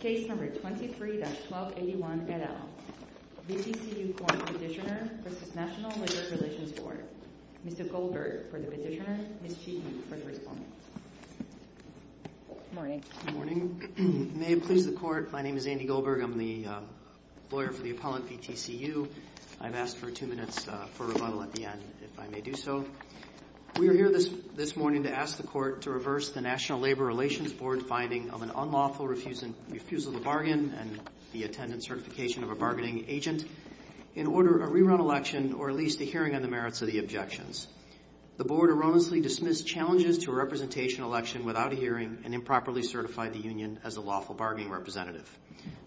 Case No. 23-1281, et al., VTCU Corp. Petitioner v. National Labor Relations Board Mr. Goldberg for the petitioner, Ms. Cheekney for the respondent Good morning. May it please the Court, my name is Andy Goldberg, I'm the lawyer for the appellant, VTCU I've asked for two minutes for rebuttal at the end, if I may do so We are here this morning to ask the Court to reverse the National Labor Relations Board finding of an unlawful refusal to bargain and the attendance certification of a bargaining agent in order of a rerun election or at least a hearing on the merits of the objections The Board erroneously dismissed challenges to a representation election without a hearing and improperly certified the union as a lawful bargaining representative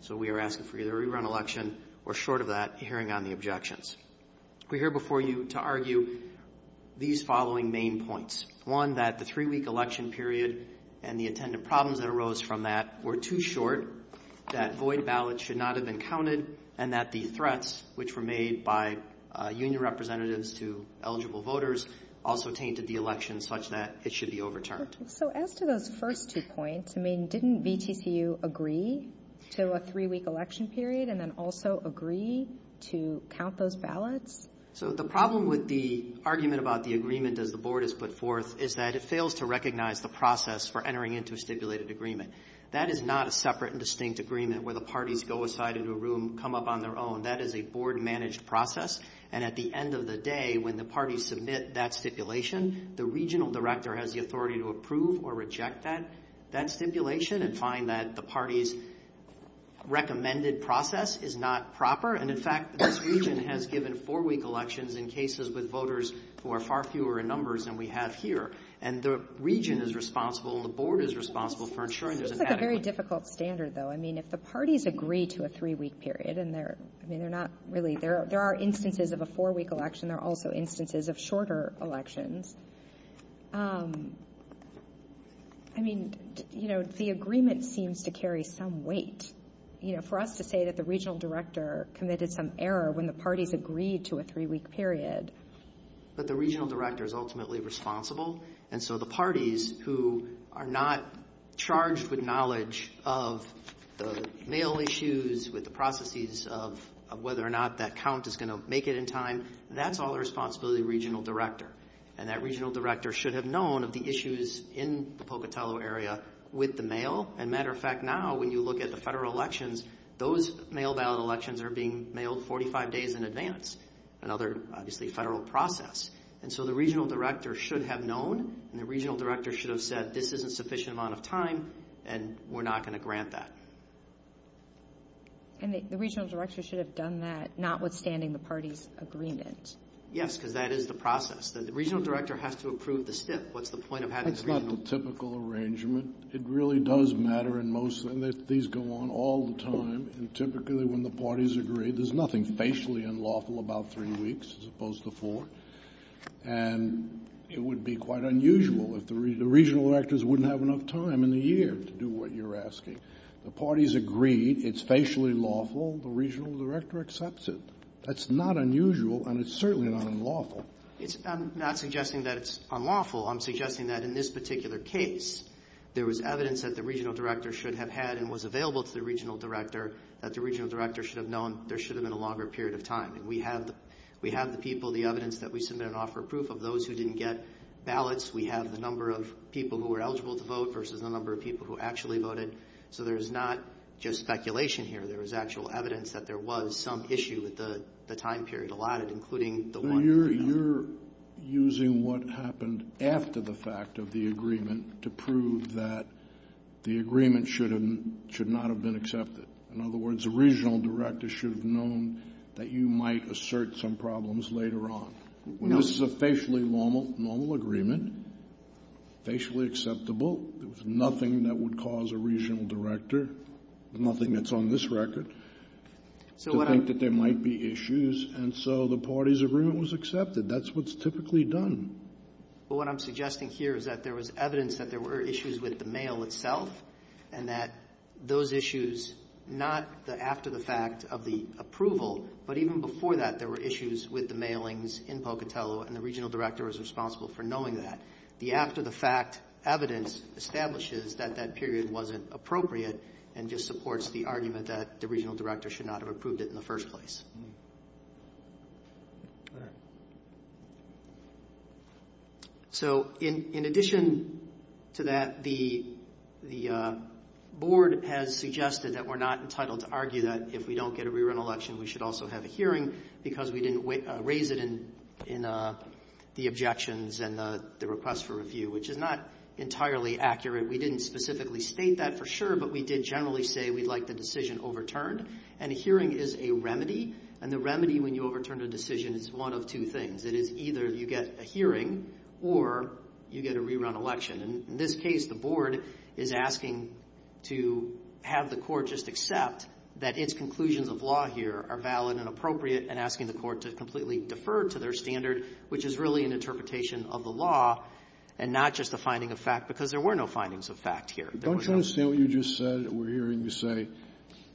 So we are asking for either a rerun election or, short of that, a hearing on the objections We're here before you to argue these following main points One, that the three-week election period and the attendant problems that arose from that were too short that void ballots should not have been counted and that the threats which were made by union representatives to eligible voters also tainted the election such that it should be overturned So as to those first two points, I mean, didn't VTCU agree to a three-week election period and then also agree to count those ballots? So the problem with the argument about the agreement as the Board has put forth is that it fails to recognize the process for entering into a stipulated agreement That is not a separate and distinct agreement where the parties go aside into a room, come up on their own That is a Board-managed process, and at the end of the day, when the parties submit that stipulation, the regional director has the authority to approve or reject that stipulation and find that the parties' recommended process is not proper And in fact, this region has given four-week elections in cases with voters who are far fewer in numbers than we have here And the region is responsible and the Board is responsible for ensuring there's an adequate I mean, if the parties agree to a three-week period, and there are instances of a four-week election, there are also instances of shorter elections I mean, the agreement seems to carry some weight For us to say that the regional director committed some error when the parties agreed to a three-week period But the regional director is ultimately responsible And so the parties who are not charged with knowledge of the mail issues, with the processes of whether or not that count is going to make it in time That's all the responsibility of the regional director And that regional director should have known of the issues in the Pocatello area with the mail As a matter of fact, now when you look at the federal elections, those mail ballot elections are being mailed 45 days in advance Another, obviously, federal process And so the regional director should have known And the regional director should have said, this isn't a sufficient amount of time, and we're not going to grant that And the regional director should have done that, notwithstanding the parties' agreement Yes, because that is the process The regional director has to approve the stip What's the point of having a regional It really does matter, and these go on all the time And typically when the parties agree, there's nothing facially unlawful about three weeks as opposed to four And it would be quite unusual if the regional directors wouldn't have enough time in the year to do what you're asking The parties agreed, it's facially lawful, the regional director accepts it That's not unusual, and it's certainly not unlawful I'm not suggesting that it's unlawful I'm suggesting that in this particular case, there was evidence that the regional director should have had And was available to the regional director That the regional director should have known there should have been a longer period of time And we have the people, the evidence that we submit and offer proof of those who didn't get ballots We have the number of people who were eligible to vote versus the number of people who actually voted So there's not just speculation here There was actual evidence that there was some issue with the time period allotted, including the one So you're using what happened after the fact of the agreement to prove that the agreement should not have been accepted In other words, the regional director should have known that you might assert some problems later on This is a facially normal agreement, facially acceptable There's nothing that would cause a regional director, nothing that's on this record To think that there might be issues, and so the party's agreement was accepted That's what's typically done But what I'm suggesting here is that there was evidence that there were issues with the mail itself And that those issues, not after the fact of the approval But even before that, there were issues with the mailings in Pocatello And the regional director was responsible for knowing that The after-the-fact evidence establishes that that period wasn't appropriate And just supports the argument that the regional director should not have approved it in the first place So in addition to that, the board has suggested that we're not entitled to argue that If we don't get a re-run election, we should also have a hearing Because we didn't raise it in the objections and the request for review, which is not entirely accurate We didn't specifically state that for sure, but we did generally say we'd like the decision overturned And a hearing is a remedy, and the remedy when you overturn a decision is one of two things It is either you get a hearing or you get a re-run election And in this case, the board is asking to have the court just accept That its conclusions of law here are valid and appropriate And asking the court to completely defer to their standard Which is really an interpretation of the law And not just the finding of fact, because there were no findings of fact here Don't you understand what you just said? We're hearing you say,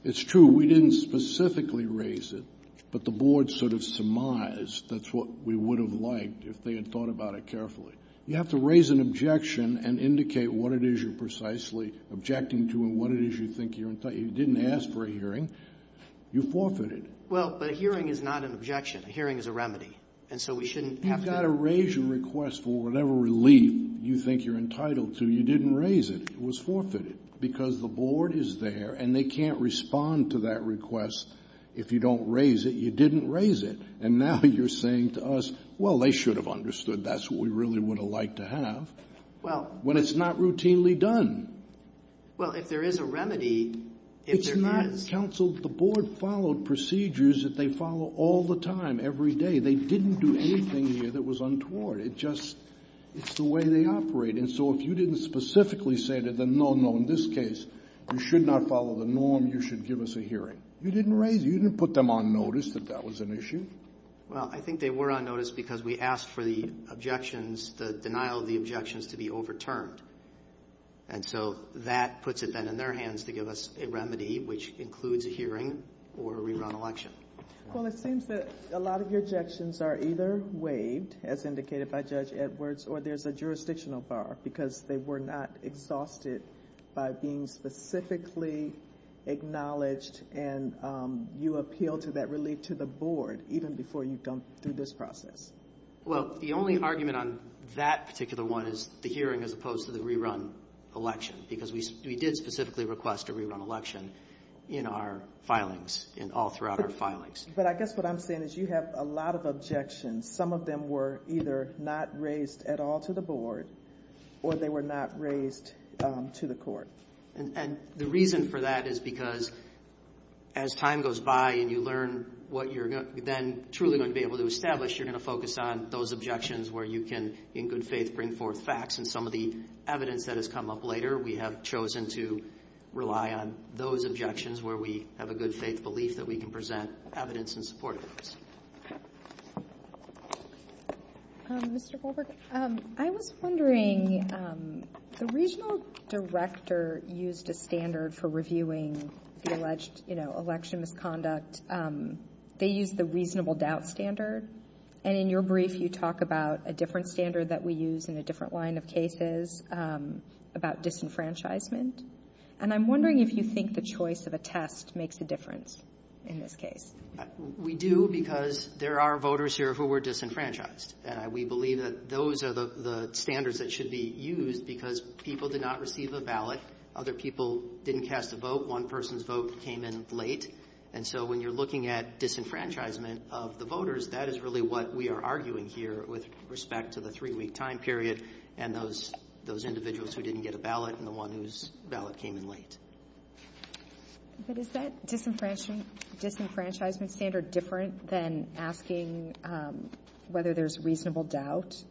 it's true, we didn't specifically raise it But the board sort of surmised that's what we would have liked if they had thought about it carefully You have to raise an objection and indicate what it is you're precisely objecting to And what it is you think you're entitled to You didn't ask for a hearing, you forfeited it Well, but a hearing is not an objection, a hearing is a remedy You've got to raise your request for whatever relief you think you're entitled to You didn't raise it, it was forfeited Because the board is there, and they can't respond to that request If you don't raise it, you didn't raise it And now you're saying to us, well, they should have understood That's what we really would have liked to have When it's not routinely done Well, if there is a remedy, if there is It's not, counsel, the board followed procedures that they follow all the time, every day They didn't do anything here that was untoward It just, it's the way they operate And so if you didn't specifically say to them, no, no, in this case You should not follow the norm, you should give us a hearing You didn't raise it, you didn't put them on notice that that was an issue Well, I think they were on notice because we asked for the objections The denial of the objections to be overturned And so that puts it then in their hands to give us a remedy Which includes a hearing or a rerun election Well, it seems that a lot of your objections are either waived As indicated by Judge Edwards, or there's a jurisdictional bar Because they were not exhausted by being specifically acknowledged And you appeal to that relief to the board Even before you've gone through this process Well, the only argument on that particular one is the hearing As opposed to the rerun election Because we did specifically request a rerun election In our filings, all throughout our filings But I guess what I'm saying is you have a lot of objections Some of them were either not raised at all to the board Or they were not raised to the court And the reason for that is because as time goes by And you learn what you're then truly going to be able to establish You're going to focus on those objections where you can In good faith bring forth facts And some of the evidence that has come up later We have chosen to rely on those objections Where we have a good faith belief that we can present evidence in support of those Mr. Goldberg, I was wondering The regional director used a standard for reviewing the alleged election misconduct They used the reasonable doubt standard And in your brief you talk about a different standard that we use In a different line of cases about disenfranchisement And I'm wondering if you think the choice of a test makes a difference in this case We do because there are voters here who were disenfranchised And we believe that those are the standards that should be used Because people did not receive a ballot Other people didn't cast a vote One person's vote came in late And so when you're looking at disenfranchisement of the voters That is really what we are arguing here with respect to the three-week time period And those individuals who didn't get a ballot And the one whose ballot came in late But is that disenfranchisement standard different than asking Whether there's reasonable doubt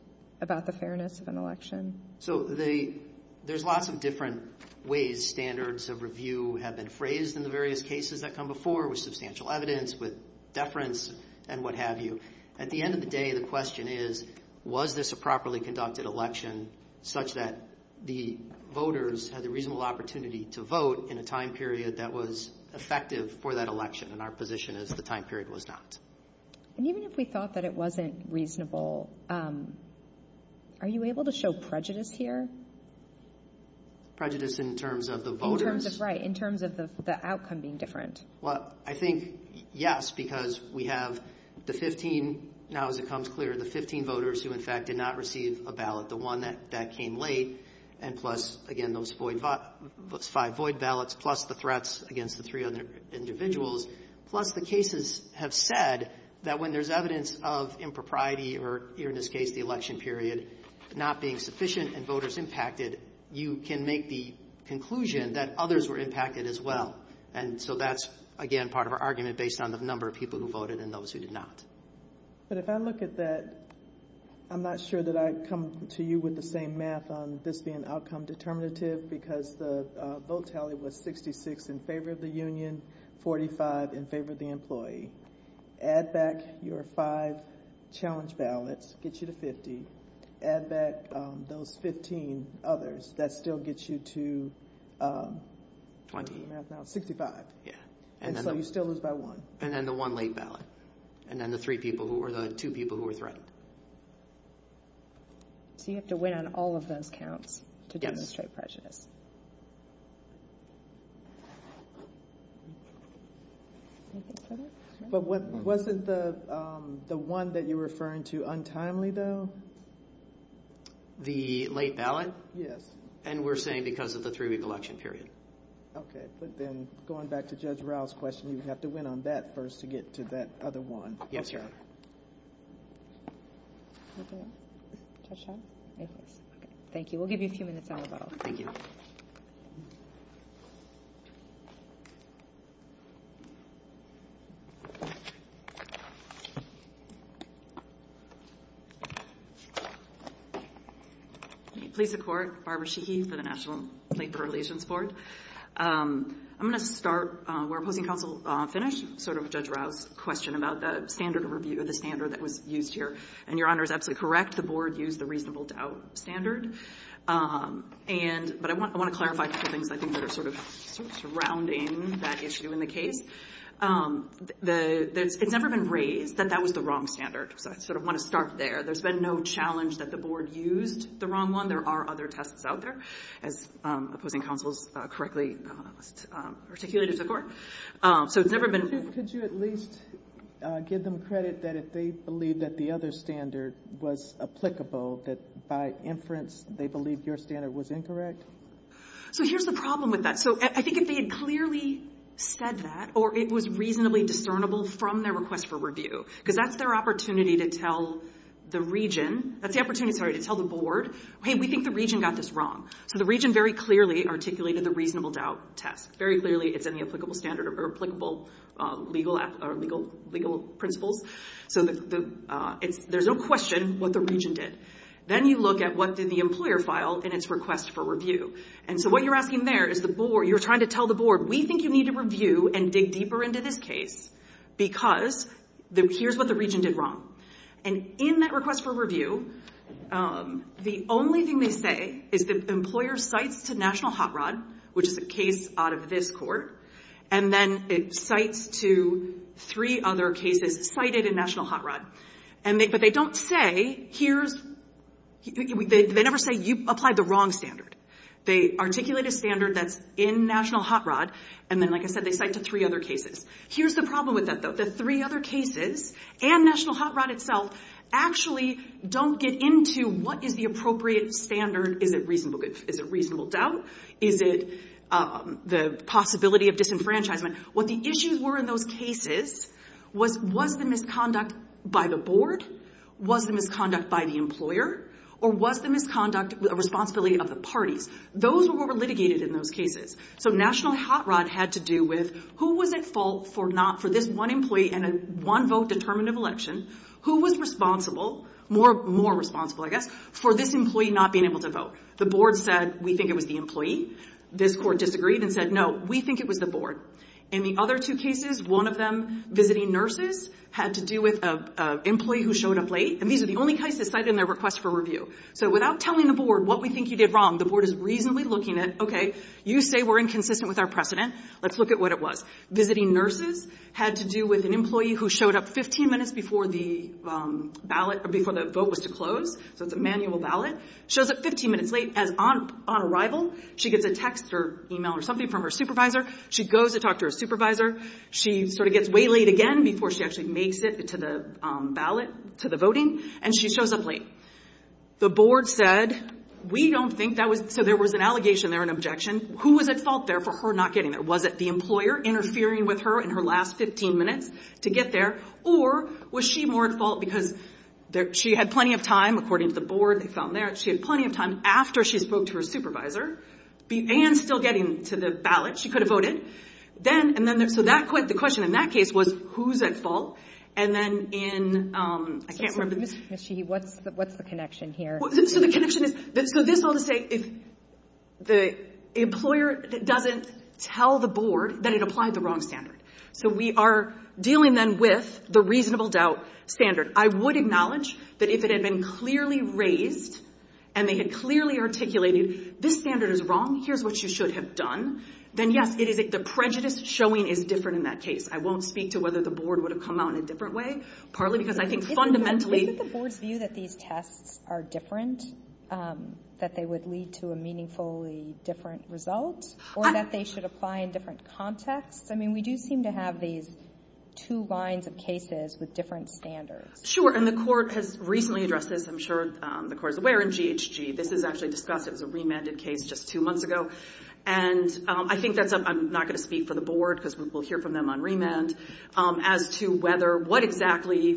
about the fairness of an election? So there's lots of different ways standards of review have been phrased In the various cases that come before with substantial evidence With deference and what have you At the end of the day the question is Was this a properly conducted election Such that the voters had the reasonable opportunity to vote In a time period that was effective for that election And our position is the time period was not And even if we thought that it wasn't reasonable Are you able to show prejudice here? Prejudice in terms of the voters? In terms of the outcome being different Well I think yes Because we have the 15 Now as it comes clear the 15 voters Who in fact did not receive a ballot The one that came late And plus again those five void ballots Plus the threats against the three other individuals Plus the cases have said That when there's evidence of impropriety Or in this case the election period Not being sufficient and voters impacted You can make the conclusion that others were impacted as well And so that's again part of our argument Based on the number of people who voted and those who did not But if I look at that I'm not sure that I come to you with the same math On this being outcome determinative Because the vote tally was 66 in favor of the union 45 in favor of the employee Add back your five challenge ballots Gets you to 50 Add back those 15 others That still gets you to 20 65 And so you still lose by one And then the one late ballot And then the two people who were threatened So you have to win on all of those counts To demonstrate prejudice But wasn't the one that you're referring to untimely though? The late ballot? Yes And we're saying because of the three-week election period Okay But then going back to Judge Rowe's question You have to win on that first to get to that other one Yes, Your Honor Thank you We'll give you a few minutes on the vote Thank you Please support Barbara Sheehy for the National Labor Relations Board I'm going to start where opposing counsel finished Sort of Judge Rowe's question about the standard of review Or the standard that was used here And Your Honor is absolutely correct The board used the reasonable doubt standard But I want to clarify The reason that the board used the reasonable doubt standard That are sort of surrounding that issue in the case It's never been raised that that was the wrong standard So I sort of want to start there There's been no challenge that the board used the wrong one There are other tests out there As opposing counsel's correctly articulated to the court So it's never been Could you at least give them credit That if they believe that the other standard was applicable That by inference they believe your standard was incorrect? So here's the problem with that So I think if they had clearly said that Or it was reasonably discernible from their request for review Because that's their opportunity to tell the region That's the opportunity, sorry, to tell the board Hey, we think the region got this wrong So the region very clearly articulated the reasonable doubt test Very clearly it's in the applicable standard Or applicable legal principles So there's no question what the region did Then you look at what did the employer file In its request for review And so what you're asking there is the board You're trying to tell the board We think you need to review and dig deeper into this case Because here's what the region did wrong And in that request for review The only thing they say is the employer cites to National Hot Rod Which is a case out of this court And then it cites to three other cases Cited in National Hot Rod But they don't say They never say you applied the wrong standard They articulate a standard that's in National Hot Rod And then like I said they cite to three other cases Here's the problem with that though The three other cases and National Hot Rod itself Actually don't get into what is the appropriate standard Is it reasonable doubt? Is it the possibility of disenfranchisement? What the issues were in those cases Was the misconduct by the board? Was the misconduct by the employer? Or was the misconduct a responsibility of the parties? Those were what were litigated in those cases So National Hot Rod had to do with Who was at fault for this one employee And a one vote determinative election Who was responsible More responsible I guess For this employee not being able to vote The board said we think it was the employee This court disagreed and said no We think it was the board In the other two cases One of them visiting nurses Had to do with an employee who showed up late And these are the only cases cited in their request for review So without telling the board what we think you did wrong The board is reasonably looking at Okay you say we're inconsistent with our precedent Let's look at what it was Visiting nurses had to do with an employee Who showed up 15 minutes before the ballot Before the vote was to close So it's a manual ballot Shows up 15 minutes late as on arrival She gets a text or email or something from her supervisor She goes to talk to her supervisor She sort of gets way late again Before she actually makes it to the ballot To the voting And she shows up late The board said we don't think that was So there was an allegation there An objection Who was at fault there for her not getting there Was it the employer interfering with her In her last 15 minutes to get there Or was she more at fault Because she had plenty of time According to the board She had plenty of time After she spoke to her supervisor And still getting to the ballot She could have voted So the question in that case was Who's at fault And then in I can't remember Ms. Sheehy, what's the connection here So the connection is This is all to say If the employer doesn't tell the board That it applied the wrong standard So we are dealing then with The reasonable doubt standard I would acknowledge That if it had been clearly raised And they had clearly articulated This standard is wrong Here's what you should have done Then yes, the prejudice showing Is different in that case I won't speak to whether the board Would have come out in a different way Partly because I think fundamentally Isn't the board's view That these tests are different That they would lead to A meaningfully different result Or that they should apply In different contexts I mean, we do seem to have these Two lines of cases With different standards Sure, and the court Has recently addressed this I'm sure the court is aware In GHG This is actually discussed It was a remanded case Just two months ago And I think that's I'm not going to speak for the board Because we'll hear from them on remand As to whether What exactly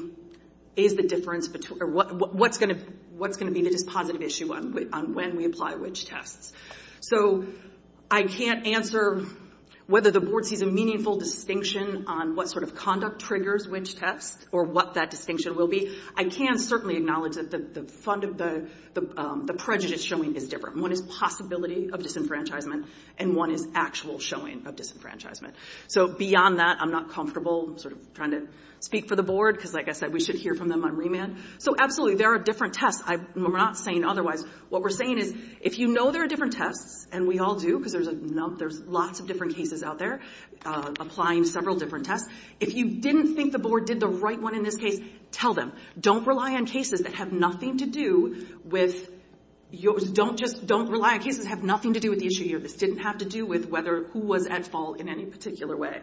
is the difference What's going to be The dispositive issue On when we apply which tests So I can't answer Whether the board sees A meaningful distinction On what sort of conduct Triggers which test Or what that distinction will be I can certainly acknowledge That the prejudice showing Is different One is possibility Of disenfranchisement And one is actual showing Of disenfranchisement So beyond that I'm not comfortable Sort of trying to speak for the board Because like I said We should hear from them on remand So absolutely There are different tests We're not saying otherwise What we're saying is If you know there are different tests And we all do Because there's lots of different cases out there Applying several different tests If you didn't think the board Did the right one in this case Tell them Don't rely on cases That have nothing to do with Yours Don't just Don't rely on cases That have nothing to do with the issue This didn't have to do with Whether who was at fault In any particular way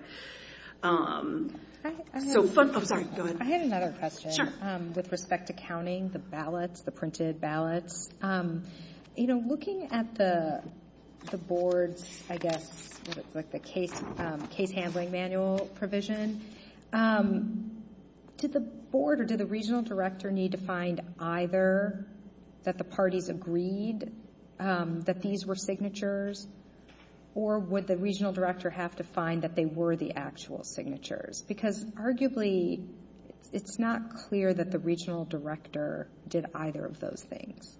So fun I'm sorry Go ahead I had another question Sure With respect to counting The ballots The printed ballots You know Looking at the The board's I guess Like the case Case handling manual provision Did the board Or did the regional director Need to find either That the parties agreed That these were signatures Or would the regional director Have to find That they were the actual signatures Because arguably It's not clear That the regional director Did either of those things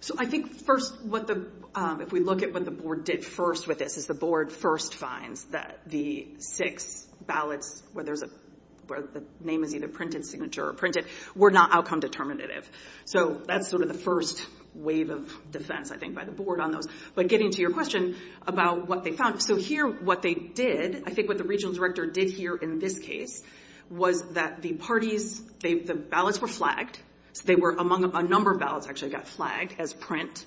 So I think first What the If we look at what the board Did first with this Is the board First finds that The six ballots Where there's a Where the name is either Printed signature Or printed Signature Were not outcome Determinative So that's sort of the first Wave of defense I think by the board on those But getting to your question About what they found So here What they did I think what the regional director Did here in this case Was that the parties The ballots were flagged They were among A number of ballots Actually got flagged As print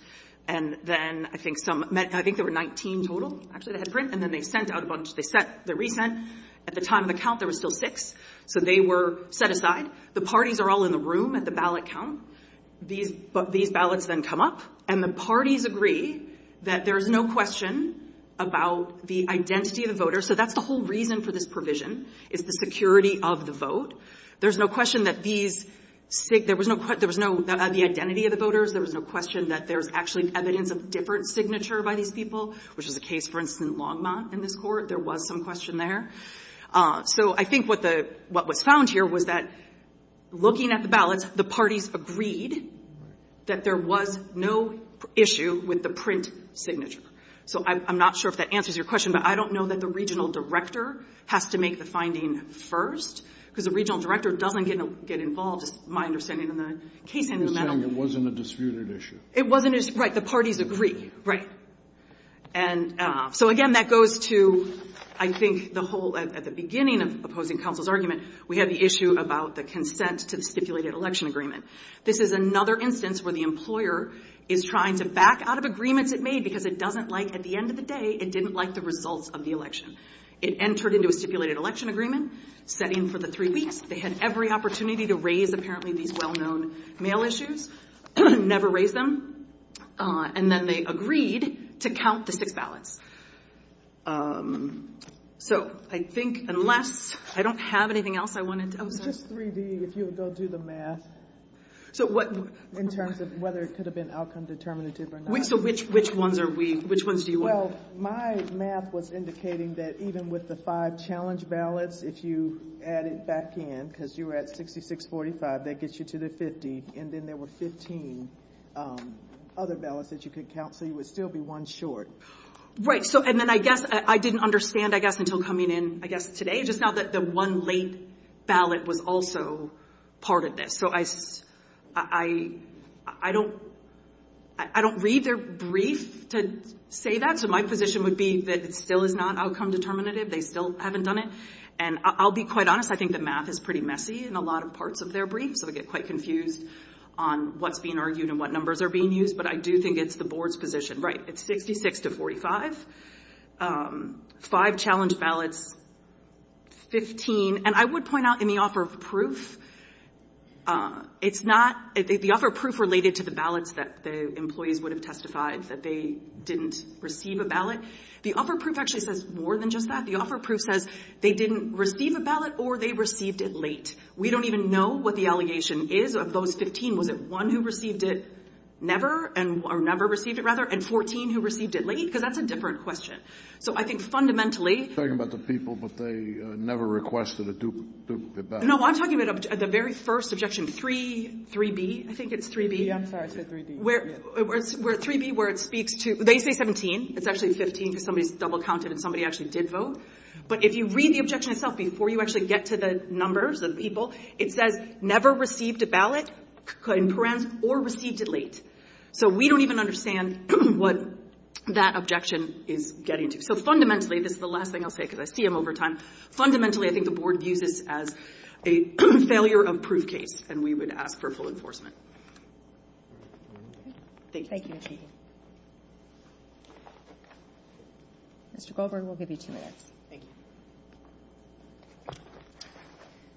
And then I think some I think there were 19 total Actually that had print And then they sent out a bunch They sent The recent At the time of the count There were still six So they were Set aside The parties are all in the room At the ballot count These But these ballots Then come up And the parties agree That there's no question About the identity of the voters So that's the whole reason For this provision Is the security of the vote There's no question That these There was no There was no The identity of the voters There was no question That there's actually Evidence of different signature By these people Which is the case For instance in Longmont In this court There was some question there So I think what the What was found here Was that Looking at the ballots The parties agreed That there was No issue With the print Signature So I'm not sure If that answers your question But I don't know That the regional director Has to make the finding First Because the regional director Doesn't get involved As my understanding In the case In the mental It wasn't a disputed issue It wasn't Right The parties agree Right And so again That goes to I think The whole At the beginning Of opposing counsel's argument We had the issue About the consent To the stipulated election agreement This is another instance Where the employer Is trying to Back out of agreements It made Because it doesn't like At the end of the day It didn't like the results Of the election It entered into A stipulated election agreement Set in for the three weeks They had every opportunity To raise apparently These well known Mail issues Never raised them And then they agreed To count the six ballots And so So I think Unless I don't have anything else I wanted to Just 3D If you'll go do the math So what In terms of Whether it could have been Outcome determinative Or not So which ones are we Which ones do you want Well my math Was indicating that Even with the five Challenge ballots If you add it back in Because you were at 6645 That gets you to the 50 And then there were 15 Other ballots That you could count So you would still be One short Right so And then I guess I didn't understand I guess Until coming in I guess today Just now that the one Late ballot Was also Part of this So I I I don't I don't read Their brief To say that So my position would be That it still is not Outcome determinative They still haven't done it And I'll be quite honest I think the math Is pretty messy In a lot of parts Of their brief So I get quite confused On what's being argued And what numbers Are being used But I do think It's the board's position Right it's 66 to 45 Five challenge ballots 15 And I would point out In the offer of proof It's not The offer of proof Related to the ballots That the employees Would have testified That they didn't Receive a ballot The offer of proof Actually says more Than just that The offer of proof says They didn't receive a ballot Or they received it late We don't even know What the allegation is Of those 15 Was it one who received it Never Or never received it rather And 14 who received it late Because that's a different Question So I think fundamentally You're talking about the people But they never requested A duplicate ballot No I'm talking about The very first objection 3B I think it's 3B Yeah I'm sorry I said 3B Where 3B Where it speaks to They say 17 It's actually 15 Because somebody's Double counted And somebody actually did vote But if you read The objection itself Before you actually Get to the numbers Of people It says never received A ballot Or received it late So we don't even understand What that objection Is We're getting to So fundamentally This is the last thing I'll say Because I see them over time Fundamentally I think The board views this As a failure of proof case And we would ask For full enforcement Thank you Thank you Mr. Goldberg We'll give you two minutes Thank you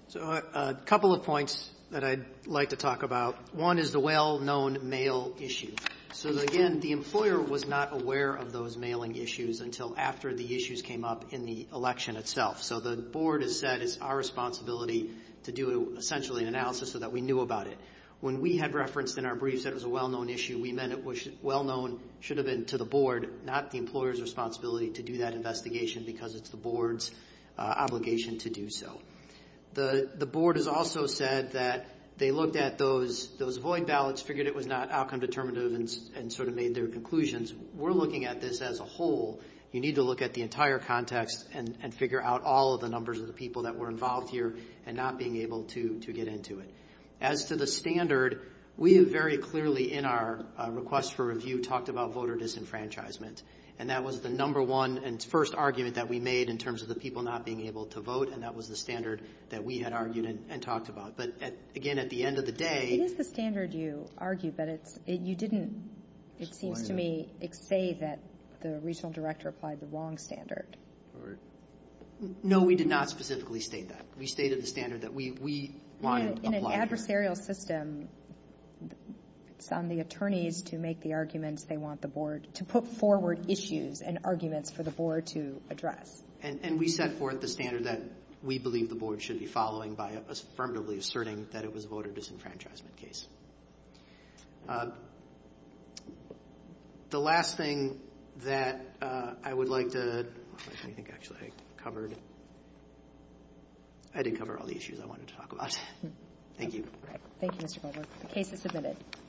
So a couple of points That I'd like to talk about One is the well-known Mail issue So again The employer was not aware Of those mailing issues Until after the issues Came up in the election itself So the board has said It's our responsibility To do essentially An analysis So that we knew about it When we had referenced In our briefs That it was a well-known issue We meant it was Well-known Should have been to the board Not the employer's responsibility To do that investigation Because it's the board's Obligation to do so The board has also said That they looked at Those void ballots Figured it was not Outcome determinative And sort of made Their conclusions We're looking at this As a whole You need to look at The entire context And figure out All of the numbers Of the people That were involved here And not being able To get into it As to the standard We have very clearly In our request for review Talked about Voter disenfranchisement And that was The number one And first argument That we made In terms of the people Not being able to vote And that was the standard That we had argued And talked about But again At the end of the day It is the standard you argue But it's You didn't It seems to me Say that The regional director Applied the wrong standard No we did not Specifically state that We stated the standard That we Applied In an adversarial system It's on the attorneys To make the arguments They want the board To put forward Issues and arguments For the board To address And we set forth The standard that We believe the board Should be following By affirmatively asserting That it was Voter disenfranchisement case The last thing That I would like to I think actually I covered I did cover all the issues I wanted to talk about Thank you Thank you Mr. Goldberg The case is submitted